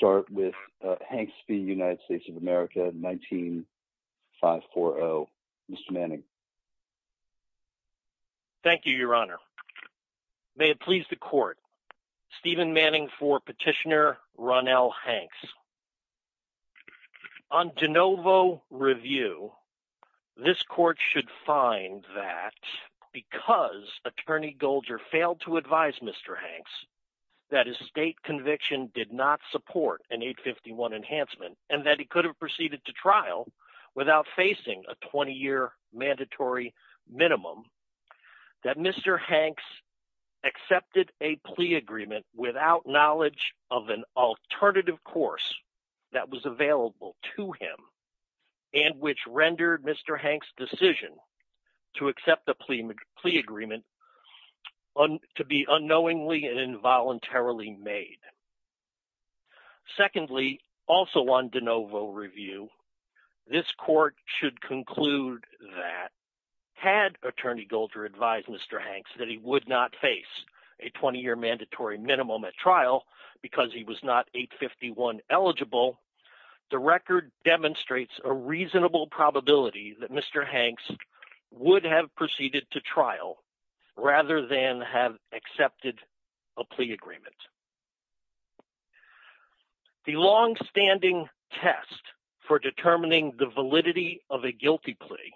v. United States of America, 19-540. Mr. Manning. Thank you, Your Honor. May it please the Court, Stephen Manning for Petitioner Ronnell Hanks. On de novo review, this Court should find that because Attorney Goldger failed to advise Mr. Hanks that his state conviction did not support an 851 enhancement and that he could have proceeded to trial without facing a 20-year mandatory minimum, that Mr. Hanks accepted a plea agreement without knowledge of an alternative course that was available to him and which rendered Mr. Hanks' decision to accept the plea agreement to be unknowingly and involuntarily made. Secondly, also on de novo review, this Court should conclude that had Attorney Goldger advised Mr. Hanks that he would not face a 20-year mandatory minimum at trial because he was not 851 eligible, the record demonstrates a reasonable probability that Mr. Hanks would have proceeded to trial rather than have accepted a plea agreement. The long-standing test for determining the validity of a guilty plea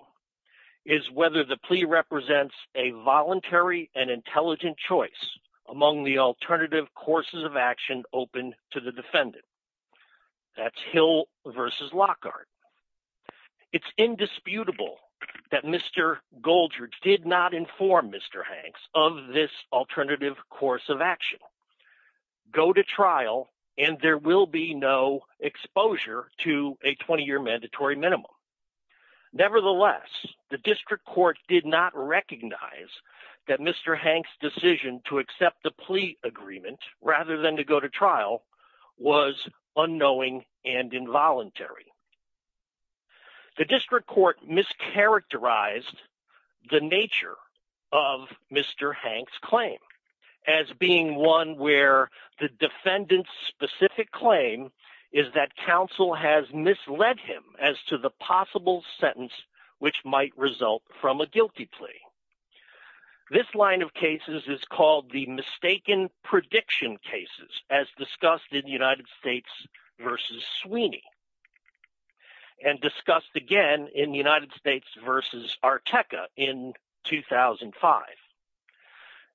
is whether the plea represents a voluntary and intelligent choice among the alternative courses of action open to the defendant. That's Hill versus Lockhart. It's indisputable that Mr. Goldger did not inform Mr. Hanks of this alternative course of action. Go to trial and there will be no exposure to a 20-year mandatory minimum. Nevertheless, the District Court did not recognize that Mr. Hanks' decision to accept the plea agreement rather than to go to trial was unknowing and involuntary. The District Court mischaracterized the nature of Mr. Hanks' claim as being one where the defendant's specific claim is that counsel has misled him as to the guilty plea. This line of cases is called the mistaken prediction cases as discussed in the United States versus Sweeney and discussed again in the United States versus Arteca in 2005.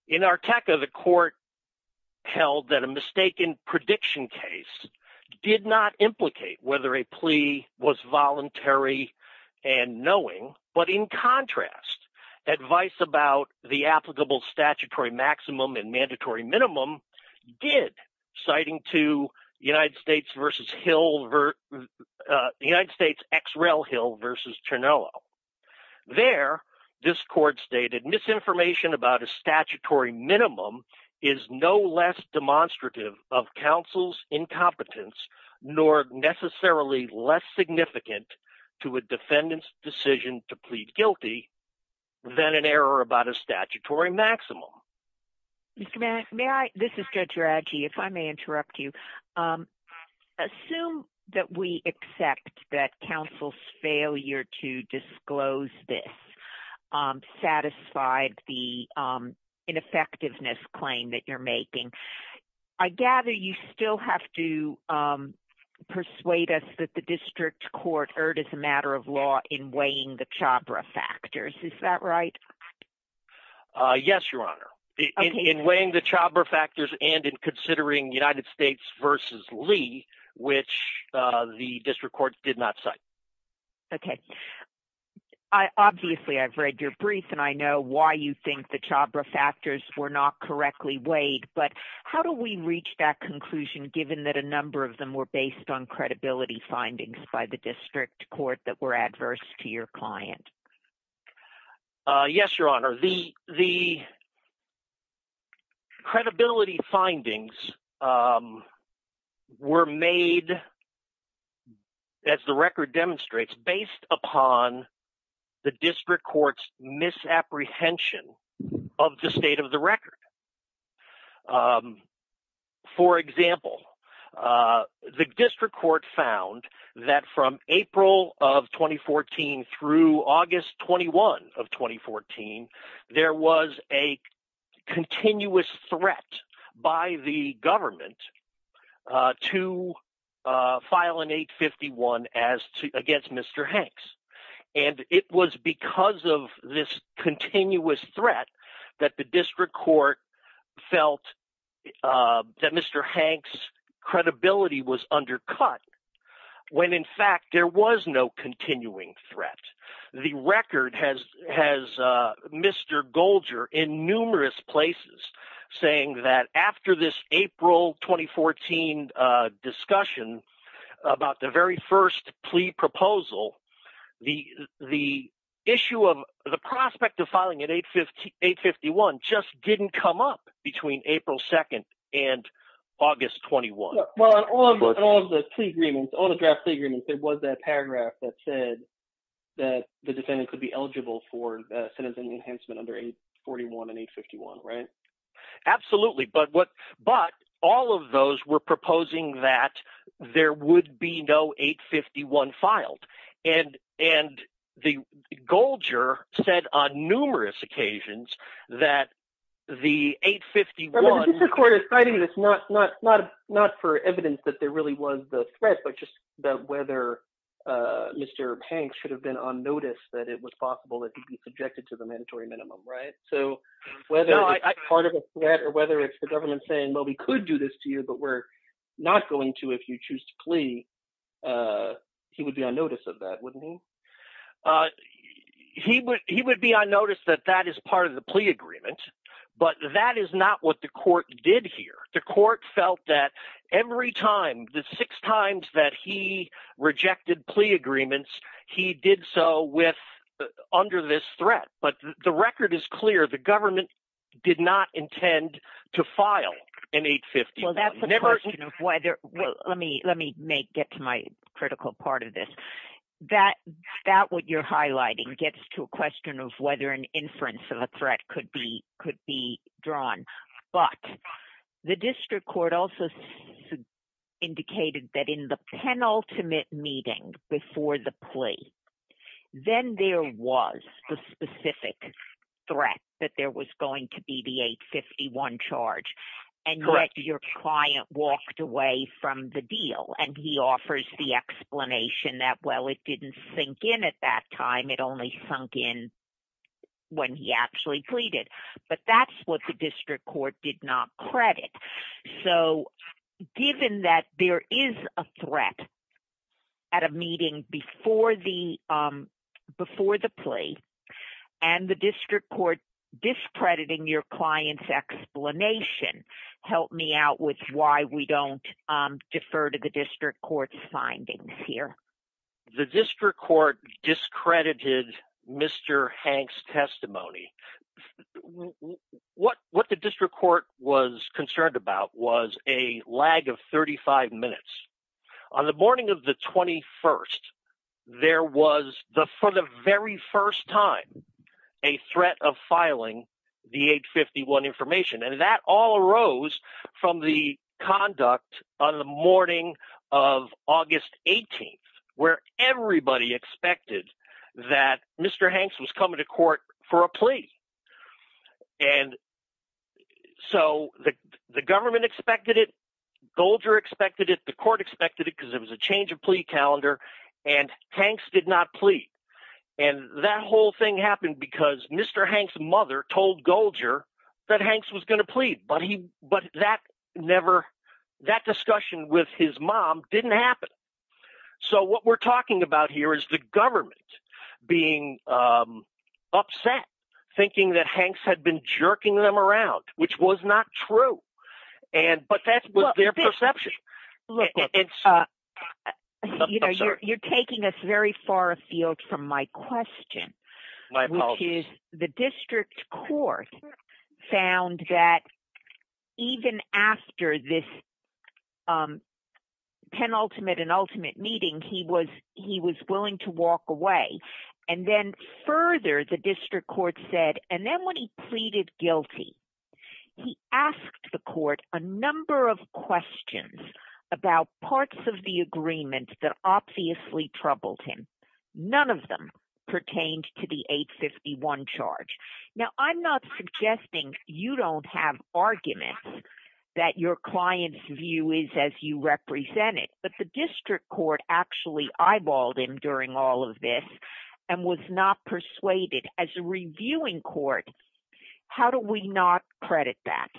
In Arteca, the court held that a mistaken prediction case did not implicate whether a plea was voluntary and knowing, but in contrast, advice about the applicable statutory maximum and mandatory minimum did, citing to the United States X. Rel. Hill versus Cernullo. There, this court stated, misinformation about a statutory minimum is no less demonstrative of significant to a defendant's decision to plead guilty than an error about a statutory maximum. Mr. Mann, may I? This is Judge Radji, if I may interrupt you. Assume that we accept that counsel's failure to disclose this satisfied the ineffectiveness claim that you're making. I gather you still have to persuade us that the district court erred as a matter of law in weighing the Chhabra factors. Is that right? Yes, Your Honor. In weighing the Chhabra factors and in considering United States versus Lee, which the district court did not cite. Okay. Obviously, I've read your brief and I know why you think the Chhabra factors were not correctly weighed, but how do we reach that conclusion given that a number of them were based on credibility findings by the district court that were adverse to your client? Yes, Your Honor. The credibility findings were made, as the record demonstrates, based upon the district court's misapprehension of the state of the record. For example, the district court found that from April of 2014 through August 21 of 2014, there was a continuous threat by the government to file an 851 against Mr. Hanks, and it was because of this continuous threat that the district court felt that Mr. Hanks' credibility was undercut when, in fact, there was no continuing threat. The record has Mr. Golger in numerous places saying that after this April 2014 discussion about the very first plea agreement, there was a paragraph that said that the defendant could be eligible for sentencing enhancement under 841 and 851, right? Absolutely, but all of those were proposing that there would be no 851 filed, and the Golger said on numerous occasions that the 851… Not for evidence that there really was the threat, but just about whether Mr. Hanks should have been on notice that it was possible that he could be subjected to the mandatory minimum, right? So whether it's part of a threat or whether it's the government saying, well, we could do this to you, but we're not going to if you choose to plea, he would be on notice of that, wouldn't he? He would be on notice that that is part of the threat. Every time, the six times that he rejected plea agreements, he did so under this threat, but the record is clear. The government did not intend to file an 851. Well, that's a question of whether… Let me get to my critical part of this. That what you're highlighting gets to a question of whether an inference of a threat could be drawn, but the district court also indicated that in the penultimate meeting before the plea, then there was the specific threat that there was going to be the 851 charge, and yet your client walked away from the deal, and he offers the explanation that, well, it didn't sink in at that time. It only sunk in when he actually pleaded, but that's what the district court did not credit. So, given that there is a threat at a meeting before the plea, and the district court discrediting your client's explanation, help me out with why we don't defer to the district court's findings here. The district court discredited Mr. Hank's testimony. What the district court was concerned about was a lag of 35 minutes. On the morning of the 21st, there was, for the very first time, a threat of filing the 851 information, and that all arose from the conduct on the morning of August 18th, where everybody expected that Mr. Hanks was coming to court for a plea. And so the government expected it, Golger expected it, the court expected it because it was a change of plea calendar, and Hanks did not plead. And that whole thing happened because Mr. Hanks' mother told Golger that Hanks was going to plead, but that discussion with his mom didn't happen. So what we're talking about here is the government being upset, thinking that Hanks had been jerking them around, which was not true. But that was their perception. Look, you're taking us very far afield from my question, which is the district court found that even after this penultimate and ultimate meeting, he was willing to walk away. And then further, the district court said, and then when he pleaded guilty, he asked the court a number of questions about parts of the agreement that obviously troubled him. None of them pertained to the 851 charge. Now, I'm not suggesting you don't have arguments that your client's view is as you represent it, but the district court actually eyeballed him during all of this and was not persuaded. As a reviewing court, how do we not credit that?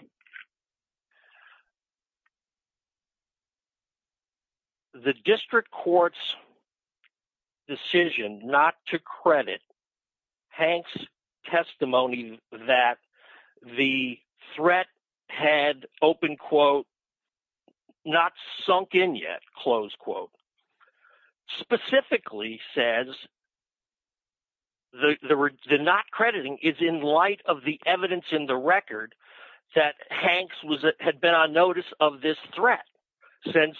The district court's decision not to credit Hanks' testimony that the threat had open quote, not sunk in yet, close quote, specifically says the not crediting is in light of the evidence in the record that Hanks had been on notice of this threat since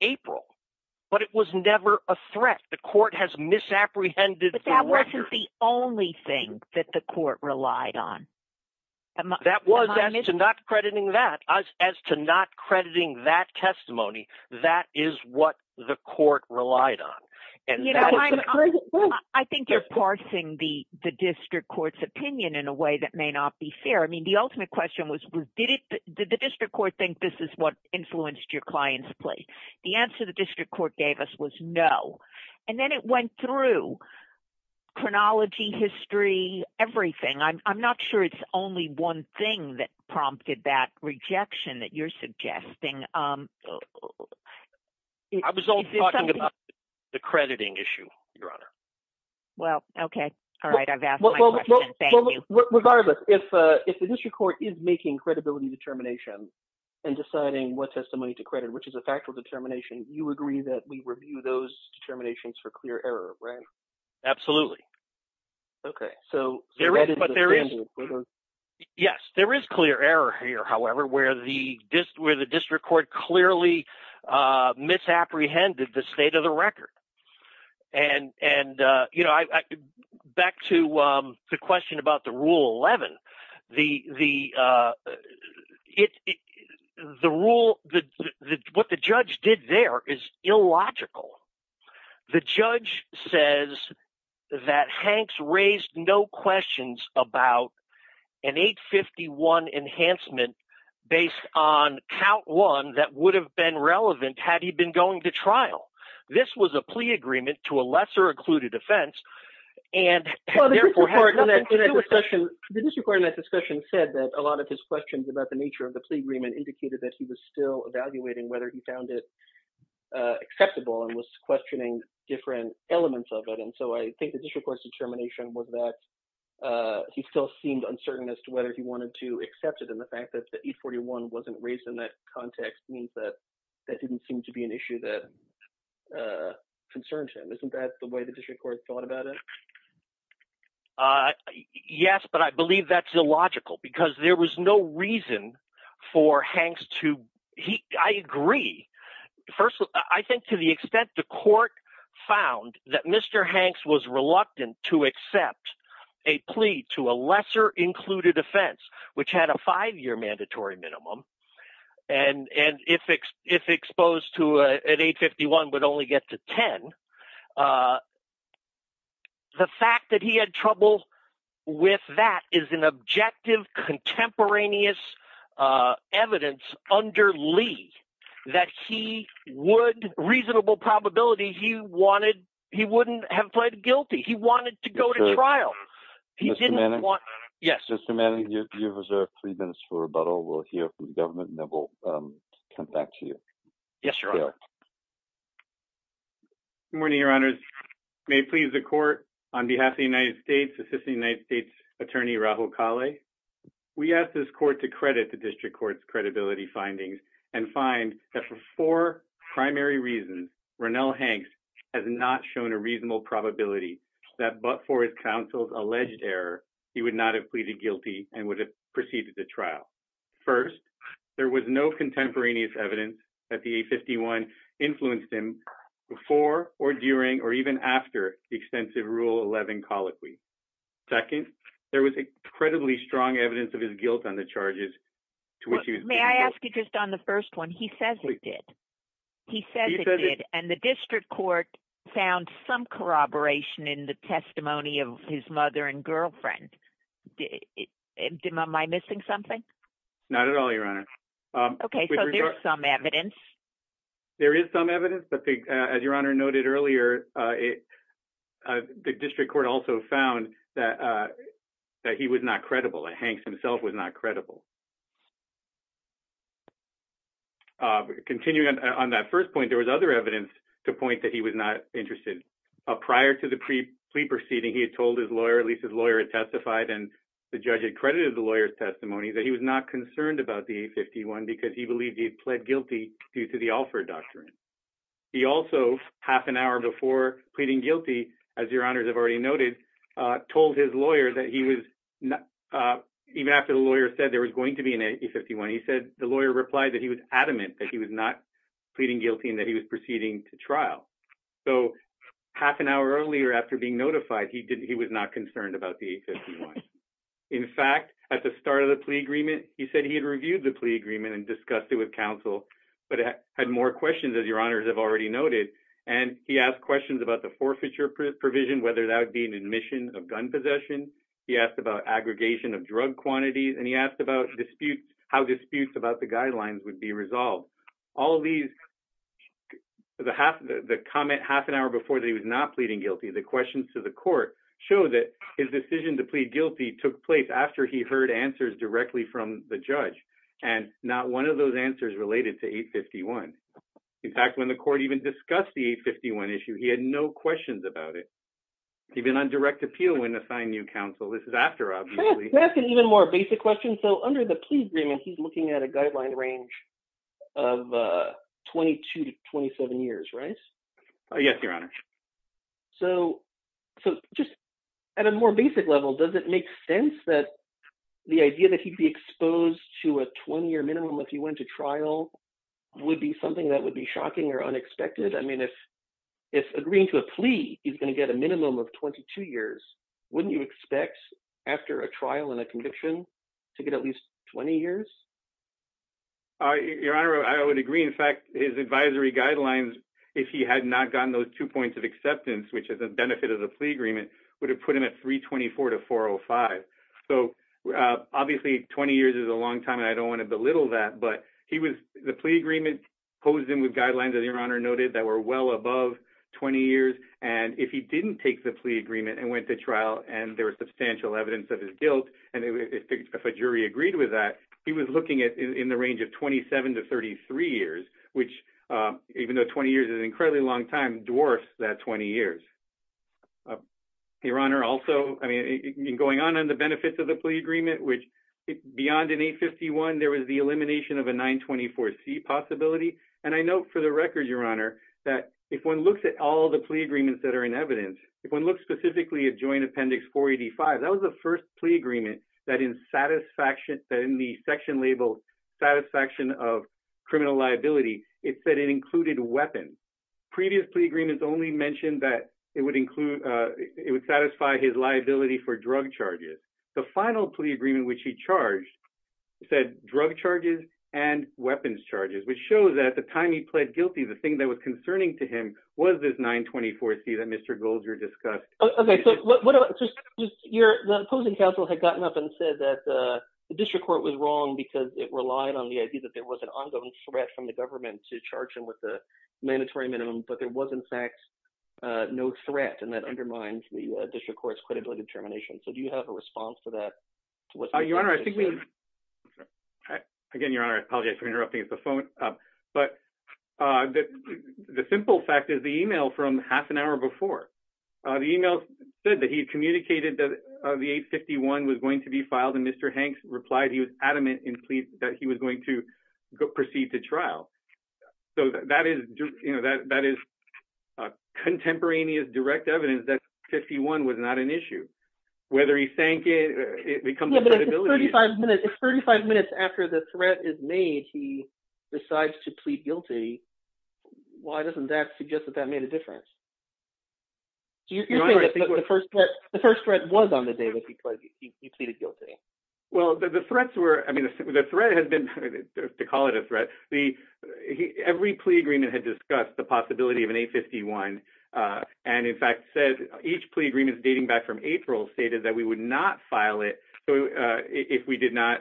April. But it was never a threat. The court has misapprehended. But that wasn't the only thing that the court relied on. That was not crediting that as to not crediting that testimony. That is what the court relied on. I think you're parsing the district court's opinion in a way that may not be fair. I mean, the ultimate question was, did the district court think this is what influenced your client's plea? The answer the district court gave us was no. And then it went through chronology, history, everything. I'm not sure it's only one thing that prompted that rejection that you're suggesting. I was only talking about the crediting issue, Your Honor. Well, okay. All right. I've asked my question. Thank you. Regardless, if the district court is making credibility determination and deciding what testimony to credit, which is a factual determination, you agree that we review those determinations for clear error, right? Absolutely. Okay. So... Yes, there is clear error here, however, where the district court clearly misapprehended the state of the record. And back to the question about the Rule 11, the rule, what the judge did there is illogical. The judge says that Hanks raised no questions about an 851 enhancement based on count one that would have been relevant had he been going to trial. This was a plea agreement to a lesser occluded offense, and therefore... The district court in that discussion said that a lot of his questions about the nature of the plea agreement indicated that he was still evaluating whether he found it acceptable and was questioning different elements of it. And so I think the district court's determination was that he still seemed uncertain as to whether he wanted to accept it. And the fact that the 841 wasn't raised in that context means that that didn't seem to be an issue that concerned him. Isn't that the way the district court thought about it? Yes, but I believe that's illogical because there was no reason for Hanks to... I agree. First, I think to the extent the court found that Mr. Hanks was reluctant to accept a plea to a lesser included offense, which had a five-year mandatory minimum, and if exposed to an 851 would only get to 10, the fact that he had trouble with that is an objective contemporaneous evidence under Lee that he would, reasonable probability, he wouldn't have pled guilty. He wanted to go to trial. He didn't want... Mr. Manning? Yes. Mr. Manning, you have reserved three minutes for rebuttal. We'll hear from the government and then we'll come back to you. Yes, your honor. Good morning, your honors. May it please the court, on behalf of the United States, Assistant United States Attorney Rahul Kale, we ask this court to credit the district court's credibility findings and find that for four primary reasons, Rannell Hanks has not shown a reasonable probability that but for his counsel's alleged error, he would not have pleaded guilty and would have proceeded to trial. First, there was no contemporaneous evidence that the 851 influenced him before or during or even after the extensive rule 11 colloquy. Second, there was incredibly strong evidence of his guilt on the charges to which he was... May I ask you just on the first one? He says he did. He says he did. And the district court found some corroboration in the testimony of his mother and girlfriend. Am I missing something? Not at all, your honor. Okay, so there's some evidence. There is some evidence, but as your honor noted earlier, the district court also found that he was not credible, that Hanks himself was not credible. Continuing on that first point, there was other evidence to point that he was not interested. Prior to the pre-plea proceeding, he had told his lawyer, at least his lawyer had testified and the judge had credited the lawyer's testimony, that he was not concerned about the 851 because he believed he had pled guilty due to the Alford Doctrine. He also, half an hour before pleading guilty, as your honors have already noted, told his lawyer that he was... Even after the lawyer said there was going to be an 851, he said the lawyer replied that he was adamant that he was not pleading guilty and that he was proceeding to trial. So half an hour earlier, after being notified, he was not concerned about the 851. In fact, at the start of the plea agreement, he said he had reviewed the plea agreement and discussed it with counsel, but had more questions, as your honors have already noted. And he asked questions about the forfeiture provision, whether that would be an admission of gun possession. He asked about aggregation of disputes, how disputes about the guidelines would be resolved. All of these, the comment half an hour before that he was not pleading guilty, the questions to the court show that his decision to plead guilty took place after he heard answers directly from the judge. And not one of those answers related to 851. In fact, when the court even discussed the 851 issue, he had no questions about it. He'd been on direct appeal when assigned new counsel. This is after, obviously. That's an even more basic question. So under the plea agreement, he's looking at a guideline range of 22 to 27 years, right? Yes, your honors. So just at a more basic level, does it make sense that the idea that he'd be exposed to a 20 year minimum if he went to trial would be something that would be shocking or unexpected? I mean, if agreeing to a plea, he's going to get a minimum of 22 years, wouldn't you expect after a trial and a conviction to get at least 20 years? Your honor, I would agree. In fact, his advisory guidelines, if he had not gotten those two points of acceptance, which is a benefit of the plea agreement would have put him at 324 to 405. So obviously 20 years is a long time and I don't want to belittle that, but he was the plea agreement posed him with guidelines that your honor noted that were well above 20 years. And if he didn't take the plea agreement and went to trial and there was substantial evidence of his guilt, and if a jury agreed with that, he was looking at in the range of 27 to 33 years, which, even though 20 years is an incredibly long time, dwarfs that 20 years. Your honor, also, I mean, going on in the benefits of the plea agreement, which beyond an 851, there was the elimination of a 924 C possibility. And I know for the record, that if one looks at all the plea agreements that are in evidence, if one looks specifically at Joint Appendix 485, that was the first plea agreement that in the section labeled satisfaction of criminal liability, it said it included weapons. Previous plea agreements only mentioned that it would include, it would satisfy his liability for drug charges. The final plea agreement, which he charged, said drug charges and weapons charges, which shows that the time he pled guilty, the thing that was concerning to him was this 924 C that Mr. Goldger discussed. Okay, so the opposing counsel had gotten up and said that the district court was wrong because it relied on the idea that there was an ongoing threat from the government to charge him with a mandatory minimum, but there was in fact no threat and that undermines the district court's credibility determination. So do you have a response to that? Your Honor, I think we... Again, Your Honor, I apologize for interrupting at the phone, but the simple fact is the email from half an hour before. The email said that he had communicated that the 851 was going to be filed and Mr. Hanks replied he was adamant in plea that he was going to proceed to trial. So that is contemporaneous direct evidence that credibility... If 35 minutes after the threat is made, he decides to plead guilty, why doesn't that suggest that that made a difference? Do you think that the first threat was on the day that he pleaded guilty? Well, the threats were, I mean, the threat has been, to call it a threat, every plea agreement had discussed the possibility of an 851 and in fact said each plea agreement dating back from April stated that we would not file it if we did not...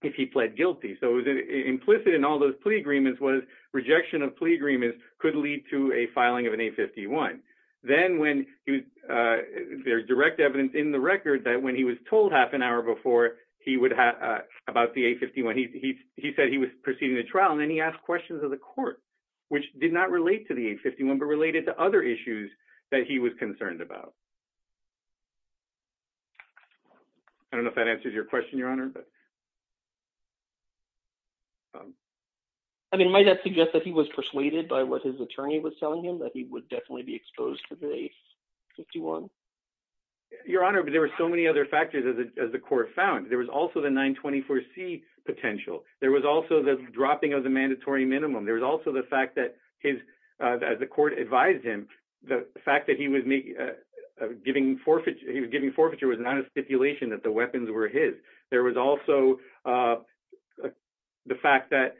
If he pled guilty. So it was implicit in all those plea agreements was rejection of plea agreements could lead to a filing of an 851. Then when there's direct evidence in the record that when he was told half an hour before about the 851, he said he was proceeding to trial and then he asked questions of the court, which did not relate to the 851, but related to other issues that he was concerned about. I don't know if that answers your question, Your Honor, but... I mean, might that suggest that he was persuaded by what his attorney was telling him that he would definitely be exposed to the 851? Your Honor, but there were so many other factors as the court found. There was also the 924C potential. There was also the dropping of the mandatory minimum. There was also the fact that as the court advised him, the fact that he was giving forfeiture was not a stipulation that the weapons were his. There was also the fact that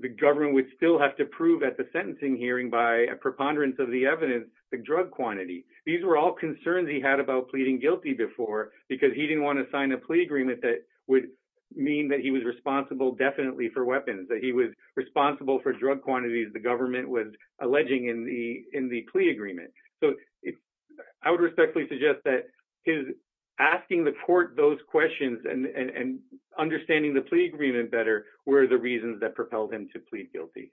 the government would still have to prove at the sentencing hearing by a preponderance of the evidence, the drug quantity. These were all concerns he had about pleading guilty before because he didn't want to sign a plea agreement that would mean that he was responsible definitely for weapons, that he was responsible for drug quantities the government was I would respectfully suggest that his asking the court those questions and understanding the plea agreement better were the reasons that propelled him to plead guilty.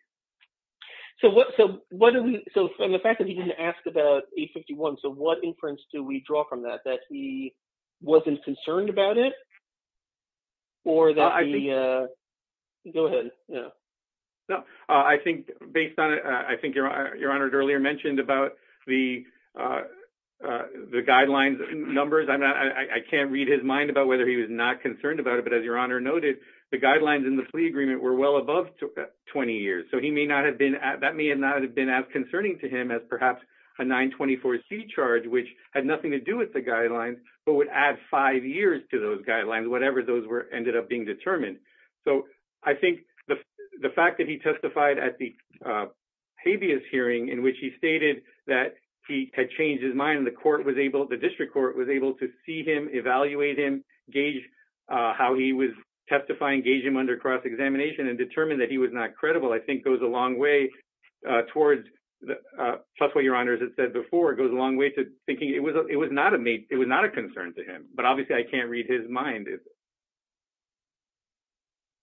So what do we... So from the fact that he didn't ask about 851, so what inference do we draw from that, that he wasn't concerned about it or that he... Go ahead. No, I think based on it, I think Your Honor earlier mentioned about the guidelines numbers. I can't read his mind about whether he was not concerned about it, but as Your Honor noted, the guidelines in the plea agreement were well above 20 years. So he may not have been at... That may not have been as concerning to him as perhaps a 924C charge, which had nothing to do with the guidelines, but would add five years to those guidelines, whatever those were ended up being determined. So I think the fact that he testified at the habeas hearing in which he stated that he had changed his mind and the court was able... The district court was able to see him, evaluate him, gauge how he was testifying, gauge him under cross-examination and determine that he was not credible, I think goes a long way towards... Plus what Your Honor has said before, goes a long way to thinking it was not a concern to him, but obviously I can't read his mind.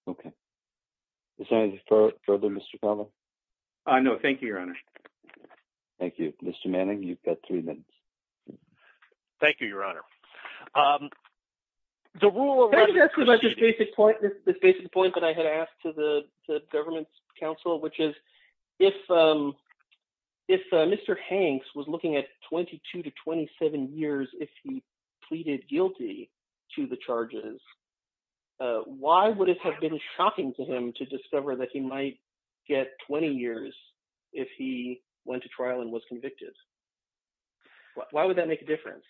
Okay. Is there anything further, Mr. Palmer? No, thank you, Your Honor. Thank you. Mr. Manning, you've got three minutes. Thank you, Your Honor. The rule of... Can I just ask you about this basic point that I had asked to the government's counsel, which is if Mr. Hanks was looking at 22 to 27 years if he pleaded guilty to the charges, why would it have been shocking to him to discover that he might get 20 years if he went to trial and was convicted? Why would that make a difference?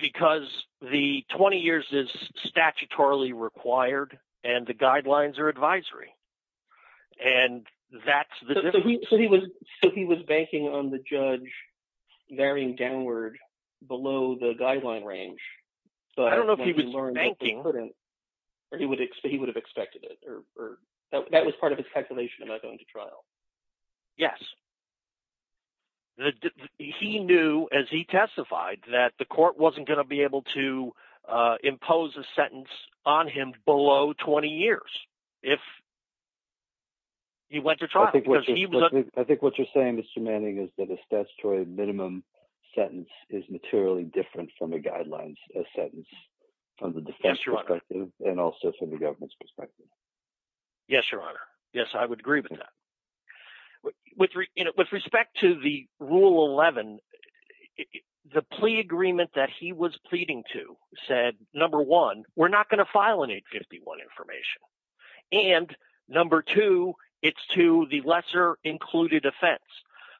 Because the 20 years is statutorily required and the guidelines are advisory. And that's the... So he was banking on the judge varying downward below the guideline range. I don't know if he was banking or he would have expected it or that was part of his calculation about going to trial. Yes. He knew as he testified that the court wasn't going to be able to impose a sentence on him below 20 years if he went to trial. I think what you're saying, Mr. Manning, is that a statutory minimum sentence is materially different from a guideline sentence from the defense perspective and also from the government's perspective. Yes, Your Honor. Yes, I would agree with that. With respect to the Rule 11, the plea agreement that he was pleading to said, number one, we're not going to file an 851 information. And number two, it's to the lesser included offense.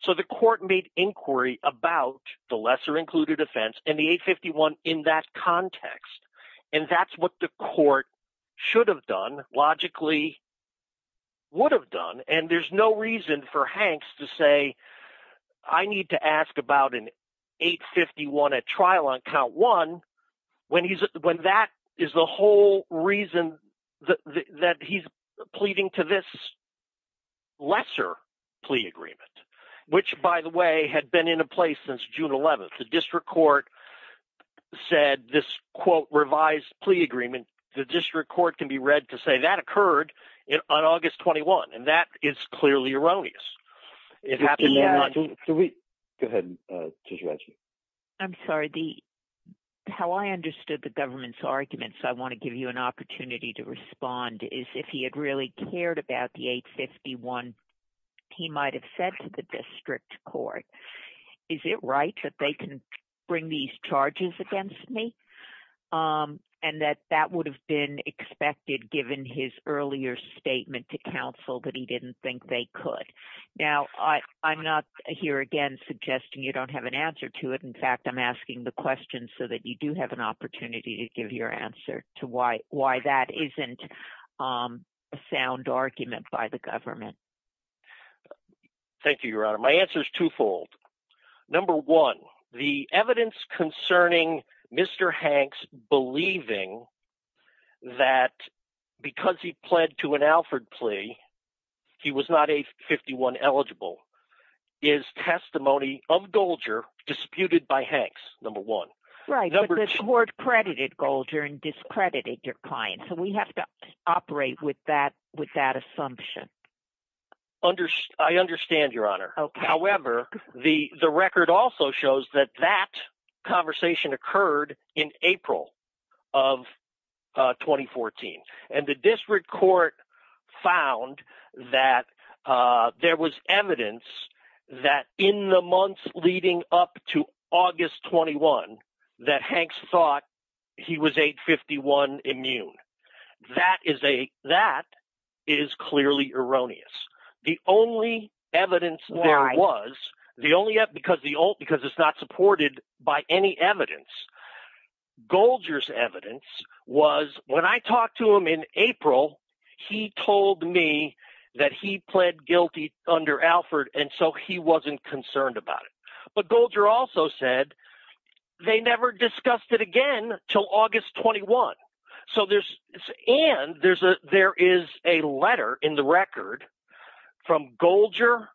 So the court made inquiry about the lesser included offense and the 851 in that context. And that's what the court should have done, logically would have done. And there's no reason for Hanks to say, I need to ask about an 851 at trial on count one when that is the whole reason that he's pleading to this lesser plea agreement, which, by the way, had been in place since June 11th. The district court said this, quote, revised plea agreement. The district court can be read to say that occurred on August 21. And that is clearly erroneous. Go ahead, Judge Reggie. I'm sorry. How I understood the government's arguments, I want to give you an opportunity to respond, is if he had really cared about the 851, he might have said to the district court, is it right that they can bring these charges against me? And that that would have been expected given his earlier statement to counsel that he didn't think they could. Now, I'm not here again, suggesting you don't have an answer to it. In fact, I'm asking the question so that you do have an opportunity to give your answer to why that isn't a sound argument by the government. Thank you, Your Honor. My answer is twofold. Number one, the evidence concerning Mr. Hanks believing that because he pled to an Alford plea, he was not 851 eligible, is testimony of Golger disputed by Hanks, number one. Right, but the court credited Golger and discredited your client. So we have to operate with that assumption. I understand, Your Honor. However, the record also shows that that conversation occurred in April of 2014. And the district court found that there was evidence that in the months erroneous. The only evidence there was the only up because the old because it's not supported by any evidence. Golger's evidence was when I talked to him in April, he told me that he pled guilty under Alford. And so he wasn't concerned about it. But Golger also said they never discussed it again till August 21. So there's and there's a there is a letter in the record from Golger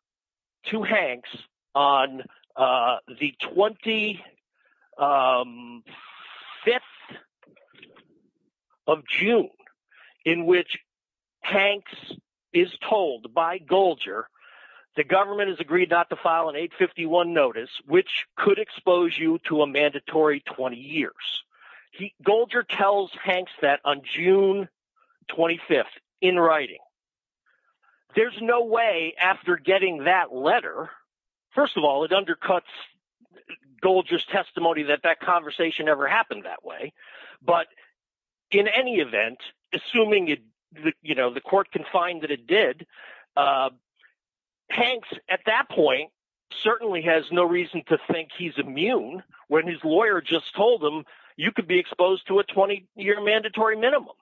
to Hanks on the 25th of June, in which Hanks is told by Golger, the government has agreed not to file an 851 notice, which could expose you to a mandatory 20 years. Golger tells Hanks that on June 25, in writing, there's no way after getting that letter. First of all, it undercuts Golger's testimony that that conversation ever happened that way. But in any event, assuming it, you know, the court can find that it did. Hanks, at that point, certainly has no reason to think he's immune. When his lawyer just told him, you could be exposed to a 20 year mandatory minimum.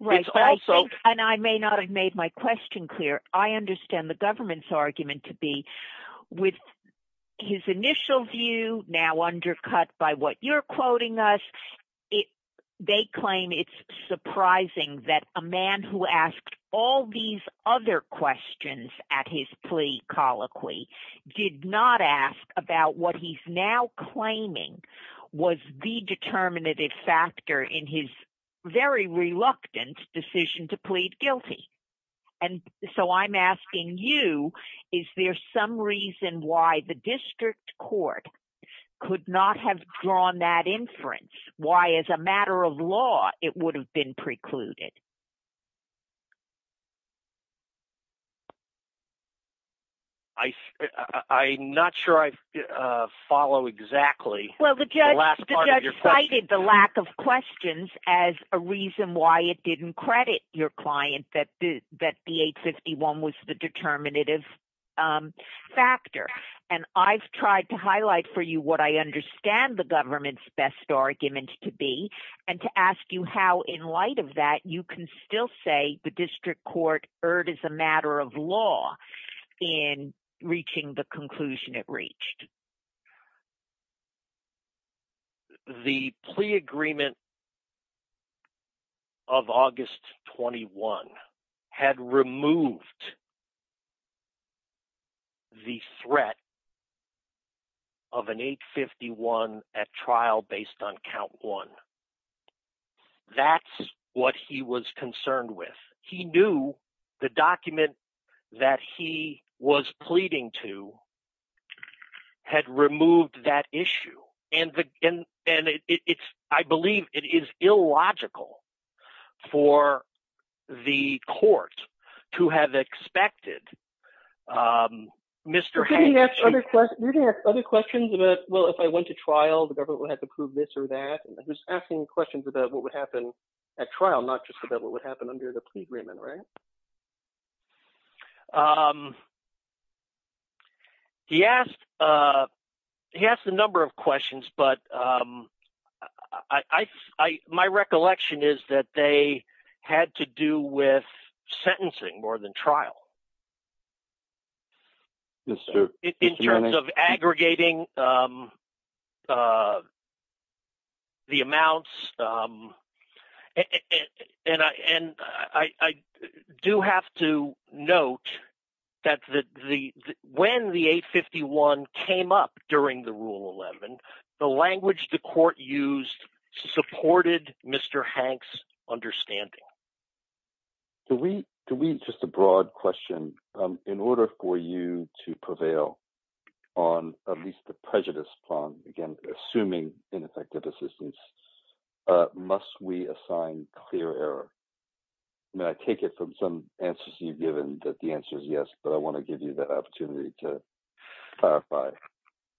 And I may not have made my question clear. I understand the government's argument to be with his initial view now undercut by what you're quoting us. It, they claim it's surprising that a man who asked all these other questions at his plea colloquy did not ask about what he's now claiming was the determinative factor in his very reluctant decision to plead guilty. And so I'm asking you, is there some reason why the district court could not have drawn that inference? Why as a matter of law, it would have been precluded? I, I'm not sure I follow exactly. Well, the judge cited the lack of questions as a reason why it didn't credit your client that the 851 was the determinative factor. And I've tried to highlight for you what I understand the government's best argument to be, and to ask you how in light of that you can still say the district court erred as a matter of law in reaching the conclusion it had removed the threat of an 851 at trial based on count one. That's what he was concerned with. He knew the document that he was pleading to had removed that issue. And the, and, and it's, I believe it is illogical for the court to have expected Mr. Hatch. You're going to ask other questions, you're going to ask other questions about, well, if I went to trial, the government would have to prove this or that. I'm just asking questions about what would happen at trial, not just about what would happen under the plea agreement, right? He asked, he asked a number of questions, but I, I, my recollection is that they had to do with sentencing more than trial. Yes, sir. In terms of aggregating the amounts, and I, and I do have to note that the, when the 851 came up during the Rule 11, the language the court used supported Mr. Hatch's understanding. Do we, do we, just a broad question, in order for you to prevail on at least the prejudice prong, again, assuming ineffective assistance, must we assign clear error? And I take it from some answers you've given that the answer is yes, but I want to give you that opportunity to clarify.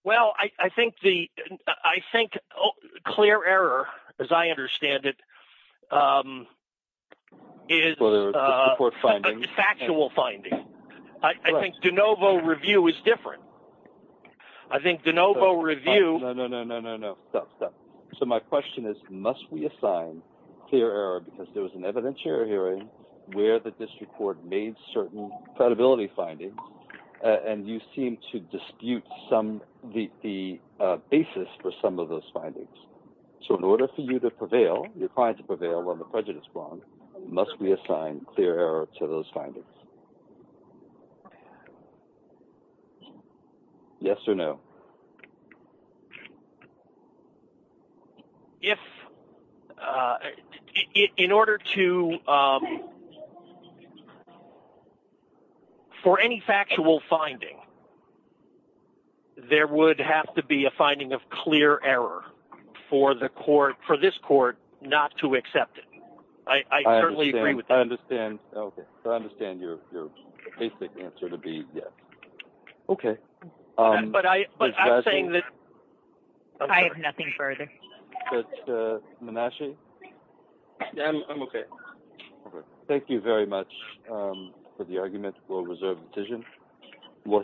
Well, I, I think the, I think clear error, as I understand it, is a factual finding. I think de novo review is different. I think de novo review... No, no, no, no, no, no, no, stop, stop. So my question is, must we assign clear error because there was an evidentiary hearing where the district court made certain credibility findings, and you seem to dispute some, the basis for some of those findings. So in order for you to prevail, you're trying to prevail on the prejudice prong, must we assign clear error to those findings? Yes or no? If, in order to, um, for any factual finding, there would have to be a finding of clear error for the court, for this court, not to accept it. I, I certainly agree with that. I understand. Okay. So I understand your, your basic answer to be yes. Okay. But I, but I'm saying that... I have nothing further. But Menashe? I'm okay. Thank you very much for the argument. We'll reserve the decision.